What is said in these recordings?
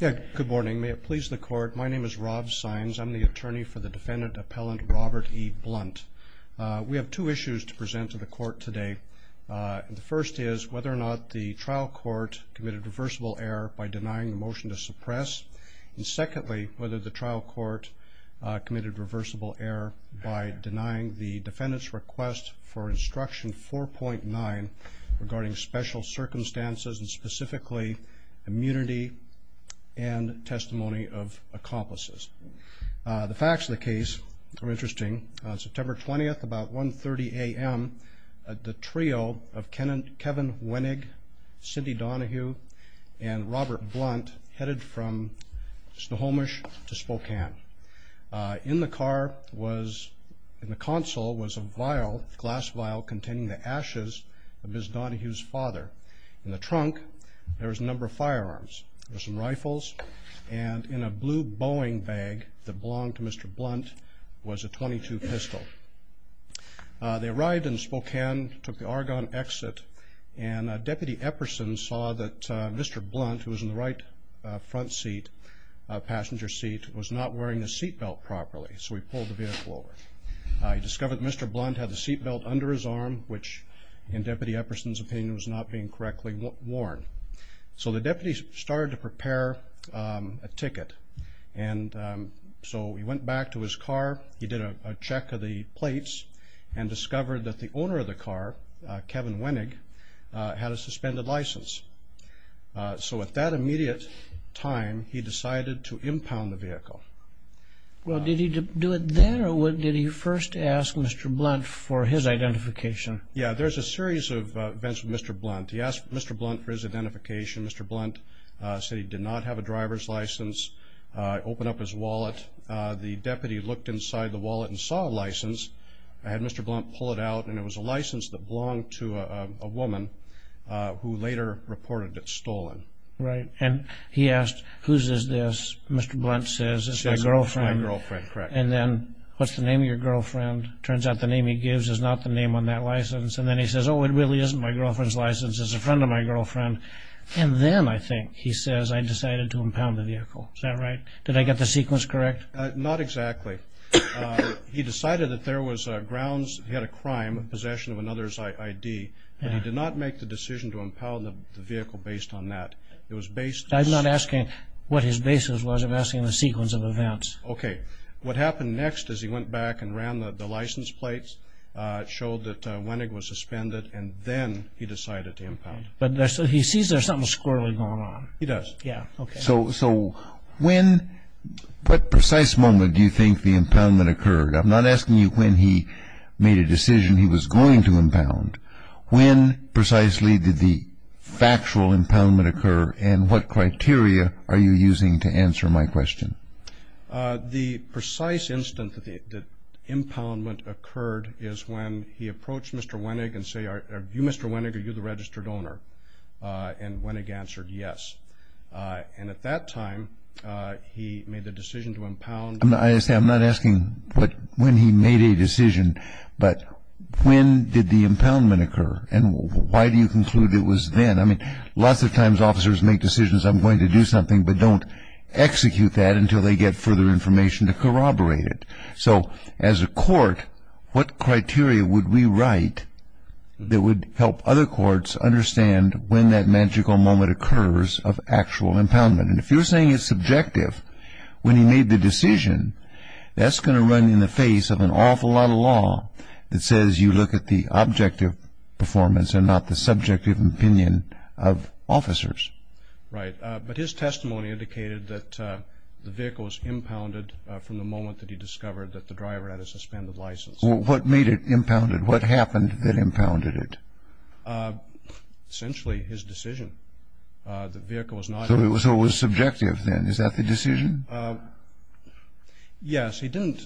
Good morning. May it please the court, my name is Rob Sines. I'm the attorney for the defendant appellant Robert E. Blunt. We have two issues to present to the court today. The first is whether or not the trial court committed reversible error by denying the motion to suppress. And secondly, whether the trial court committed reversible error by denying the defendant's request for instruction 4.9 regarding special circumstances and specifically immunity and testimony of accomplices. The facts of the case are interesting. On September 20, about 1.30 a.m., the trio of Kevin Wenig, Cindy Donahue, and Robert Blunt headed from Snohomish to Spokane. In the car was, in the console was a vial, a glass vial containing the ashes of Ms. Donahue's father. In the trunk, there was a number of firearms. There were some rifles, and in a blue Boeing bag that belonged to Mr. Blunt was a .22 pistol. They arrived in Spokane, took the Argonne exit, and Deputy Epperson saw that Mr. Blunt, who was in the right front seat, passenger seat, was not wearing the seat belt properly, so he pulled the vehicle over. He discovered that Mr. Blunt had the seat belt under his arm, which, in Deputy Epperson's opinion, was not being correctly worn. So the deputy started to prepare a ticket, and so he went back to his car. He did a check of the plates and discovered that the owner of the car, Kevin Wenig, had a suspended license. So at that immediate time, he decided to impound the vehicle. Well, did he do it then, or did he first ask Mr. Blunt for his identification? Yeah, there's a series of events with Mr. Blunt. He asked Mr. Blunt for his identification. Mr. Blunt said he did not have a driver's license. He opened up his wallet. The deputy looked inside the wallet and saw a license. I had Mr. Blunt pull it out, and it was a license that belonged to a woman who later reported it stolen. Right, and he asked, Whose is this? Mr. Blunt says, It's my girlfriend. And then, What's the name of your girlfriend? Turns out the name he gives is not the name on that license. And then he says, Oh, it really isn't my girlfriend's license. It's a friend of my girlfriend. And then, I think, he says, I decided to impound the vehicle. Is that right? Did I get the sequence correct? Not exactly. He decided that there was grounds, he had a crime, possession of another's ID, but he did not make the decision to impound the vehicle based on that. It was based on- I'm not asking what his basis was. I'm asking the sequence of events. Okay. What happened next is he went back and ran the license plates, showed that Wenning was suspended, and then he decided to impound. But he sees there's something squirrelly going on. He does. Yeah. Okay. So when, what precise moment do you think the impoundment occurred? I'm not asking you when he made a decision he was going to impound. When precisely did the factual impoundment occur, and what criteria are you using to answer my question? The precise instant that impoundment occurred is when he approached Mr. Wenning and said, Are you Mr. Wenning, are you the registered owner? And Wenning answered yes. And at that time, he made the decision to impound. I'm not asking when he made a decision, but when did the impoundment occur, and why do you conclude it was then? I mean, lots of times officers make decisions, I'm going to do something, but don't execute that until they get further information to corroborate it. So as a court, what criteria would we write that would help other courts understand when that magical moment occurs of actual impoundment? And if you're saying it's subjective, when he made the decision, that's going to run in the face of an awful lot of law that says you look at the objective performance and not the subjective opinion of officers. Right. But his testimony indicated that the vehicle was impounded from the moment that he discovered that the driver had a suspended license. What made it impounded? What happened that impounded it? Essentially, his decision. The vehicle was not impounded. So it was subjective then. Is that the decision? Yes. He didn't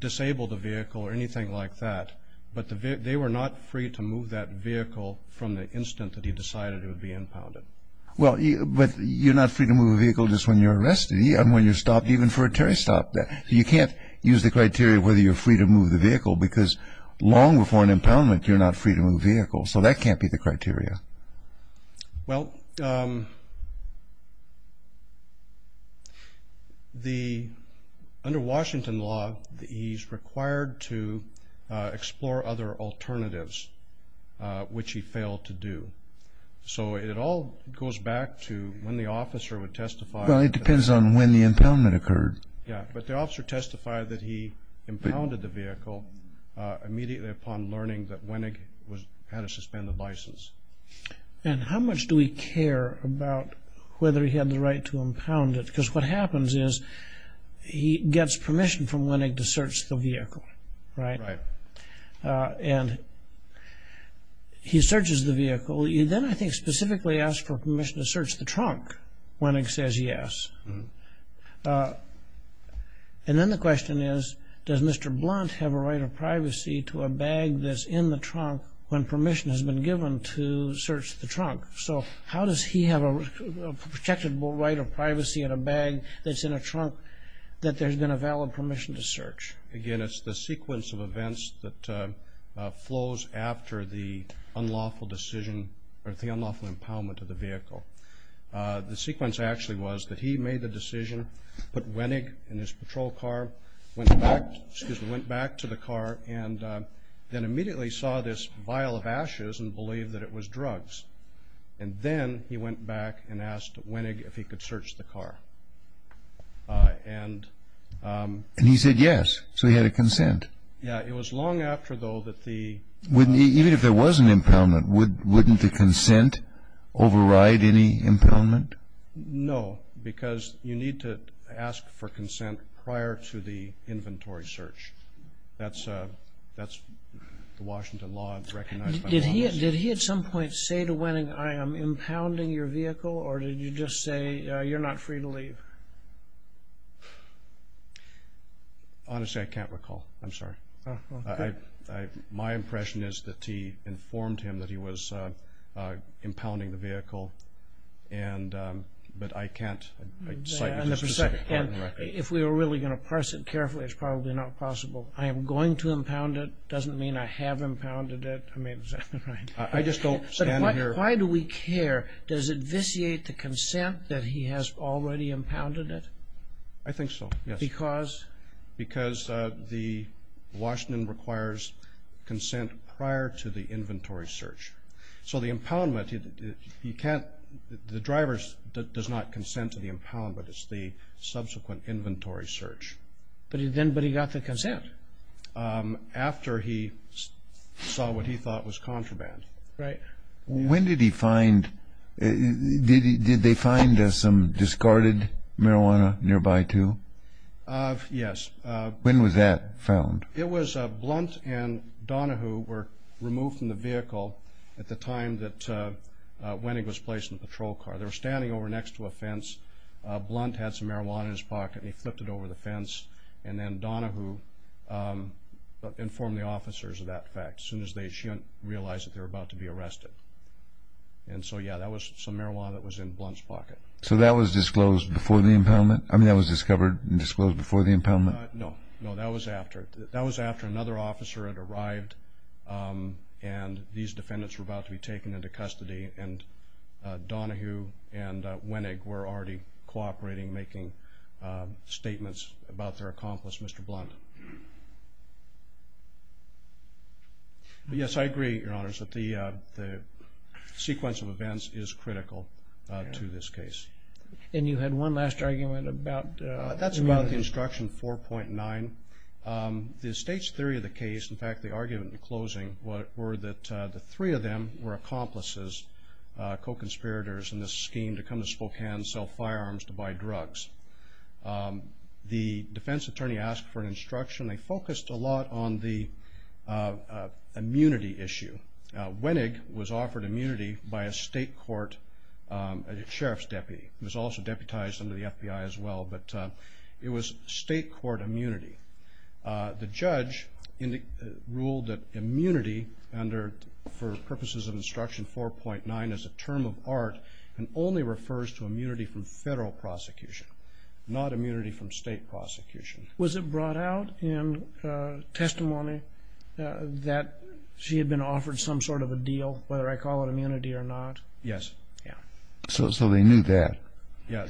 disable the vehicle or anything like that, but they were not free to move that vehicle from the instant that he decided it would be impounded. Well, but you're not free to move a vehicle just when you're arrested, and when you're stopped even for a turnstile. You can't use the criteria whether you're free to move the vehicle, because long before an impoundment, you're not free to move vehicles. So that can't be the criteria. Well, under Washington law, he's required to explore other alternatives, which he failed to do. So it all goes back to when the officer would testify. Well, it depends on when the impoundment occurred. Yeah, but the officer testified that he impounded the vehicle immediately upon learning that Wenig had a suspended license. And how much do we care about whether he had the right to impound it? Because what happens is he gets permission from Wenig to search the vehicle, right? Right. And he searches the vehicle. He then, I think, specifically asks for permission to search the trunk. Wenig says yes. And then the question is, does Mr. Blunt have a right of privacy to a bag that's in the trunk when permission has been given to search the trunk? So how does he have a protected right of privacy in a bag that's in a trunk that there's been a valid permission to search? Again, it's the sequence of events that flows after the unlawful decision or the unlawful impoundment of the vehicle. The sequence actually was that he made the decision, put Wenig in his patrol car, went back to the car, and then immediately saw this vial of ashes and believed that it was drugs. And then he went back and asked Wenig if he could search the car. And he said yes. So he had a consent. Yeah. It was long after, though, that the— Even if there was an impoundment, wouldn't the consent override any impoundment? No, because you need to ask for consent prior to the inventory search. That's the Washington law, as recognized by Congress. Did he at some point say to Wenig, I am impounding your vehicle, or did you just say, you're not free to leave? Honestly, I can't recall. I'm sorry. My impression is that he informed him that he was impounding the vehicle, but I can't cite a specific part of the record. If we were really going to parse it carefully, it's probably not possible. So I am going to impound it doesn't mean I have impounded it. I mean, is that right? I just don't stand here— But why do we care? Does it vitiate the consent that he has already impounded it? I think so, yes. Because? Because the Washington requires consent prior to the inventory search. So the impoundment, you can't—the driver does not consent to the impoundment. It's the subsequent inventory search. But he got the consent? After he saw what he thought was contraband. Right. When did he find—did they find some discarded marijuana nearby too? Yes. When was that found? It was Blunt and Donahue were removed from the vehicle at the time that Wenig was placed in the patrol car. They were standing over next to a fence. Blunt had some marijuana in his pocket and he flipped it over the fence. And then Donahue informed the officers of that fact as soon as they realized that they were about to be arrested. And so, yes, that was some marijuana that was in Blunt's pocket. So that was disclosed before the impoundment? I mean, that was discovered and disclosed before the impoundment? No. No, that was after. That was after another officer had arrived and these defendants were about to be taken into custody and Donahue and Wenig were already cooperating, making statements about their accomplice, Mr. Blunt. Yes, I agree, Your Honors, that the sequence of events is critical to this case. And you had one last argument about— That's about the Instruction 4.9. The state's theory of the case, in fact the argument in closing, were that the three of them were accomplices, co-conspirators in this scheme to come to Spokane and sell firearms to buy drugs. The defense attorney asked for an instruction. They focused a lot on the immunity issue. Wenig was offered immunity by a state court sheriff's deputy. He was also deputized under the FBI as well, but it was state court immunity. The judge ruled that immunity for purposes of Instruction 4.9 is a term of art and only refers to immunity from federal prosecution, not immunity from state prosecution. Was it brought out in testimony that she had been offered some sort of a deal, whether I call it immunity or not? Yes. So they knew that. Yes.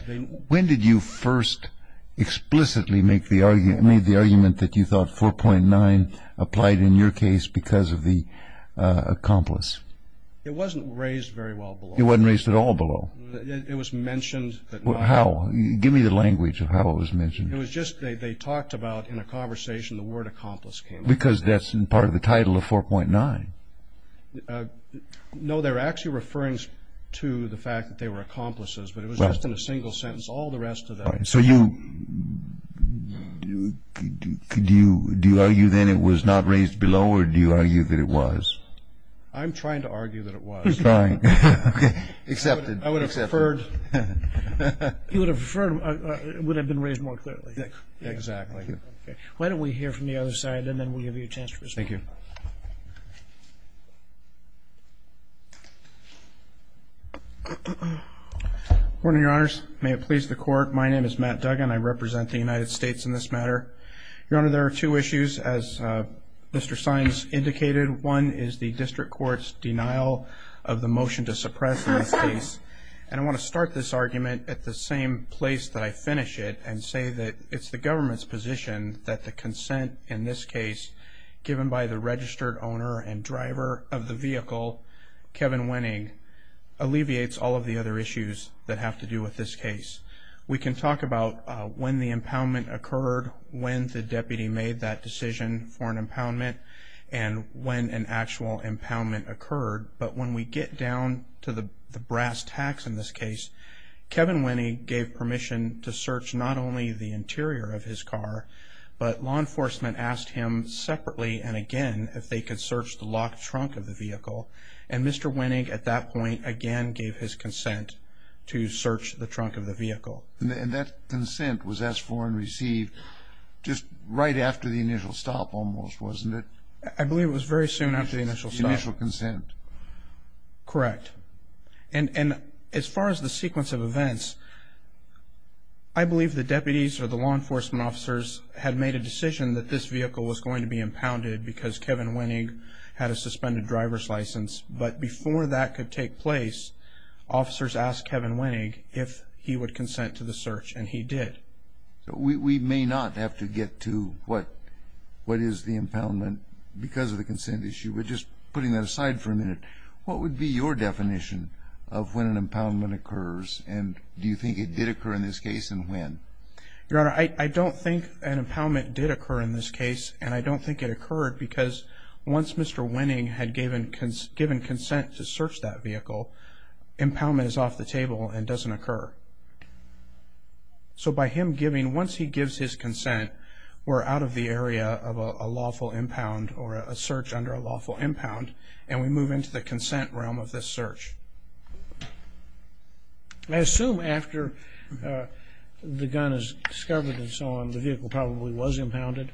When did you first explicitly make the argument that you thought 4.9 applied in your case because of the accomplice? It wasn't raised very well below. It wasn't raised at all below? It was mentioned, but not— How? Give me the language of how it was mentioned. It was just they talked about in a conversation the word accomplice came up. Because that's part of the title of 4.9. No, they were actually referring to the fact that they were accomplices, but it was just in a single sentence. All the rest of them. So you—do you argue then it was not raised below, or do you argue that it was? I'm trying to argue that it was. Fine. Accepted. I would have preferred— You would have preferred it would have been raised more clearly. Exactly. Why don't we hear from the other side, and then we'll give you a chance to respond. Thank you. Good morning, Your Honors. May it please the Court, my name is Matt Duggan. I represent the United States in this matter. Your Honor, there are two issues, as Mr. Sines indicated. One is the district court's denial of the motion to suppress in this case, and I want to start this argument at the same place that I finish it and say that it's the government's position that the consent in this case given by the registered owner and driver of the vehicle, Kevin Winning, alleviates all of the other issues that have to do with this case. We can talk about when the impoundment occurred, when the deputy made that decision for an impoundment, and when an actual impoundment occurred, but when we get down to the brass tacks in this case, Kevin Winning gave permission to search not only the interior of his car, but law enforcement asked him separately and again if they could search the locked trunk of the vehicle, and Mr. Winning at that point again gave his consent to search the trunk of the vehicle. And that consent was asked for and received just right after the initial stop almost, wasn't it? I believe it was very soon after the initial stop. The initial consent. Correct. And as far as the sequence of events, I believe the deputies or the law enforcement officers had made a decision that this vehicle was going to be impounded because Kevin Winning had a suspended driver's license, but before that could take place, officers asked Kevin Winning if he would consent to the search, and he did. We may not have to get to what is the impoundment because of the consent issue. But just putting that aside for a minute, what would be your definition of when an impoundment occurs, and do you think it did occur in this case and when? Your Honor, I don't think an impoundment did occur in this case, and I don't think it occurred because once Mr. Winning had given consent to search that vehicle, impoundment is off the table and doesn't occur. So by him giving, once he gives his consent, we're out of the area of a lawful impound or a search under a lawful impound, and we move into the consent realm of this search. I assume after the gun is discovered and so on, the vehicle probably was impounded.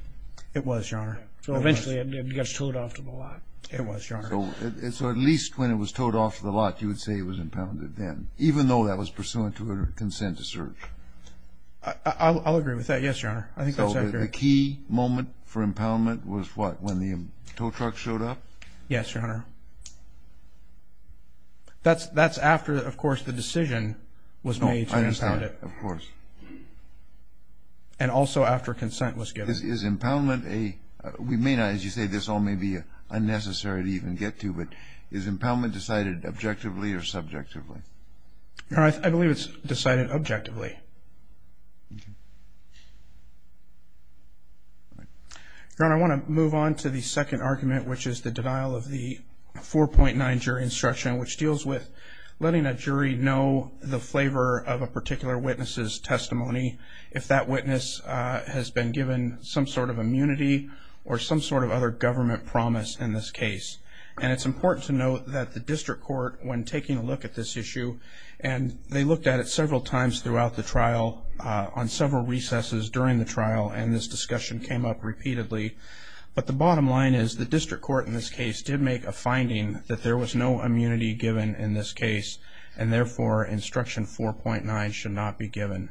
It was, Your Honor. So eventually it gets towed off to the lot. It was, Your Honor. So at least when it was towed off to the lot, you would say it was impounded then, even though that was pursuant to a consent to search. I'll agree with that, yes, Your Honor. I think that's accurate. So the key moment for impoundment was what, when the tow truck showed up? Yes, Your Honor. That's after, of course, the decision was made to impound it. Of course. And also after consent was given. Is impoundment a, we may not, as you say, this all may be unnecessary to even get to, but is impoundment decided objectively or subjectively? I believe it's decided objectively. Your Honor, I want to move on to the second argument, which is the denial of the 4.9 jury instruction, which deals with letting a jury know the flavor of a particular witness's testimony, if that witness has been given some sort of immunity or some sort of other government promise in this case. And it's important to note that the district court, when taking a look at this issue, and they looked at it several times throughout the trial on several recesses during the trial, and this discussion came up repeatedly, but the bottom line is the district court in this case did make a finding that there was no immunity given in this case, and therefore instruction 4.9 should not be given.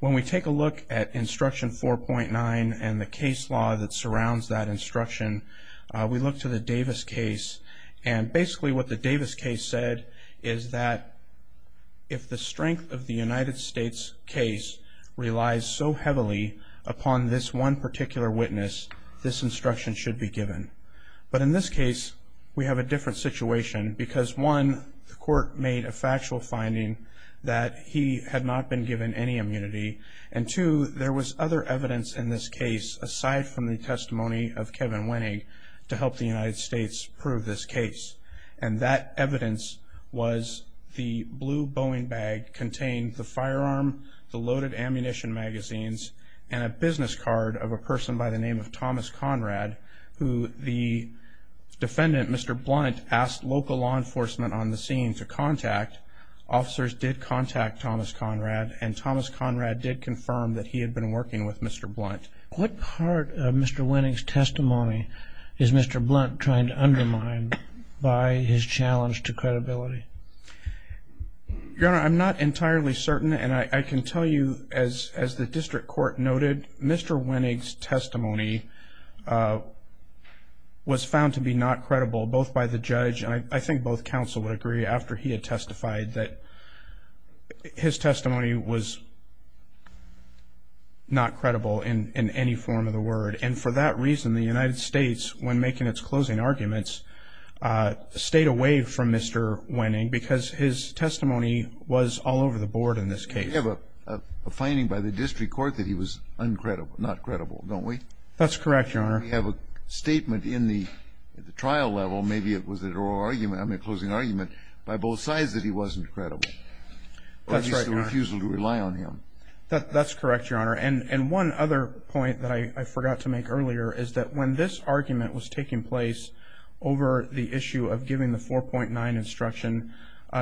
When we take a look at instruction 4.9 and the case law that surrounds that instruction, we look to the Davis case, and basically what the Davis case said is that if the strength of the United States case relies so heavily upon this one particular witness, this instruction should be given. But in this case, we have a different situation, because one, the court made a factual finding that he had not been given any immunity, and two, there was other evidence in this case aside from the testimony of Kevin Winnig to help the United States prove this case, and that evidence was the blue Boeing bag containing the firearm, the loaded ammunition magazines, and a business card of a person by the name of Thomas Conrad, who the defendant, Mr. Blunt, asked local law enforcement on the scene to contact. Officers did contact Thomas Conrad, and Thomas Conrad did confirm that he had been working with Mr. Blunt. What part of Mr. Winnig's testimony is Mr. Blunt trying to undermine by his challenge to credibility? Your Honor, I'm not entirely certain, and I can tell you as the district court noted, Mr. Winnig's testimony was found to be not credible, both by the judge, and I think both counsel would agree after he had testified that his testimony was not credible in any form of the word. And for that reason, the United States, when making its closing arguments, stayed away from Mr. Winnig because his testimony was all over the board in this case. We have a finding by the district court that he was not credible, don't we? That's correct, Your Honor. We have a statement in the trial level, maybe it was at oral argument, I mean closing argument, by both sides that he wasn't credible, or at least the refusal to rely on him. That's correct, Your Honor. And one other point that I forgot to make earlier is that when this argument was taking place over the issue of giving the 4.9 instruction,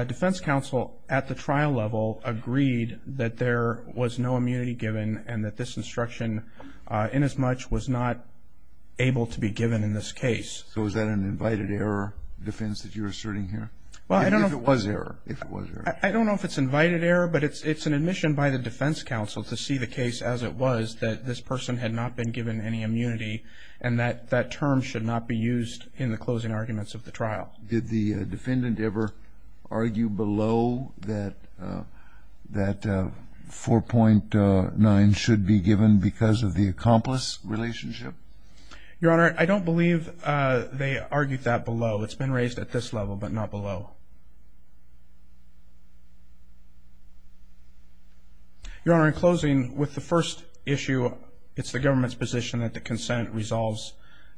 defense counsel at the trial level agreed that there was no immunity given and that this instruction inasmuch was not able to be given in this case. So is that an invited error defense that you're asserting here? Well, I don't know. If it was error, if it was error. I don't know if it's invited error, but it's an admission by the defense counsel to see the case as it was that this person had not been given any immunity and that that term should not be used in the closing arguments of the trial. Did the defendant ever argue below that 4.9 should be given because of the accomplice relationship? Your Honor, I don't believe they argued that below. It's been raised at this level, but not below. Your Honor, in closing, with the first issue, it's the government's position that the consent resolves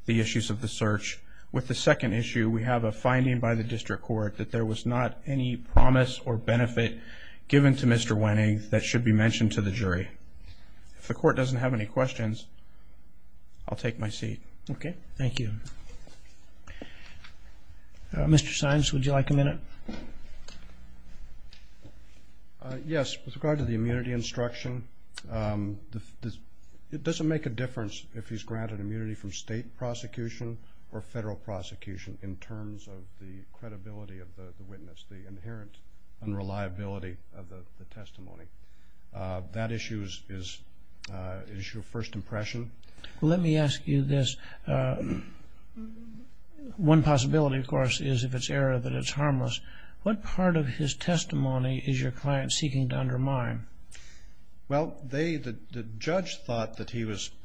the issues of the search. With the second issue, we have a finding by the district court that there was not any promise or benefit given to Mr. Wenning that should be mentioned to the jury. If the court doesn't have any questions, I'll take my seat. Okay. Thank you. Mr. Simes, would you like a minute? Yes. With regard to the immunity instruction, it doesn't make a difference if he's granted immunity from state prosecution or federal prosecution in terms of the credibility of the witness, the inherent unreliability of the testimony. That issue is your first impression. Let me ask you this. One possibility, of course, is if it's error, that it's harmless. What part of his testimony is your client seeking to undermine? Well, the judge thought that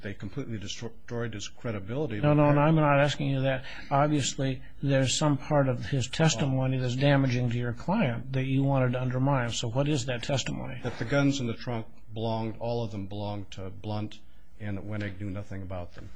they completely destroyed his credibility. No, no, I'm not asking you that. Obviously, there's some part of his testimony that's damaging to your client that you wanted to undermine. So what is that testimony? That the guns in the trunk belonged, all of them belonged to Blunt and Wenning knew nothing about them.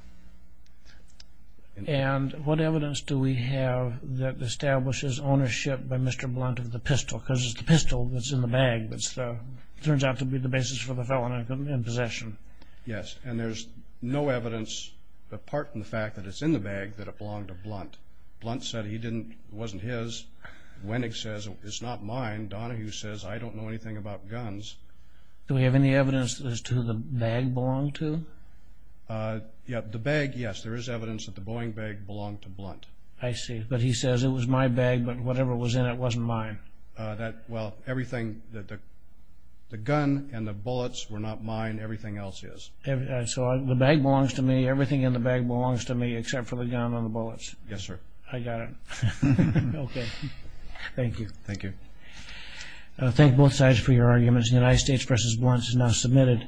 And what evidence do we have that establishes ownership by Mr. Blunt of the pistol? Because it's the pistol that's in the bag that turns out to be the basis for the felon in possession. Yes, and there's no evidence, apart from the fact that it's in the bag, that it belonged to Blunt. Blunt said it wasn't his. Wenning says, it's not mine. Donahue says, I don't know anything about guns. Do we have any evidence as to who the bag belonged to? The bag, yes, there is evidence that the Boeing bag belonged to Blunt. I see, but he says, it was my bag, but whatever was in it wasn't mine. Well, everything, the gun and the bullets were not mine, everything else is. So the bag belongs to me, everything in the bag belongs to me, except for the gun and the bullets. Yes, sir. I got it. Okay, thank you. Thank you. I thank both sides for your arguments. The United States v. Blunt is now submitted.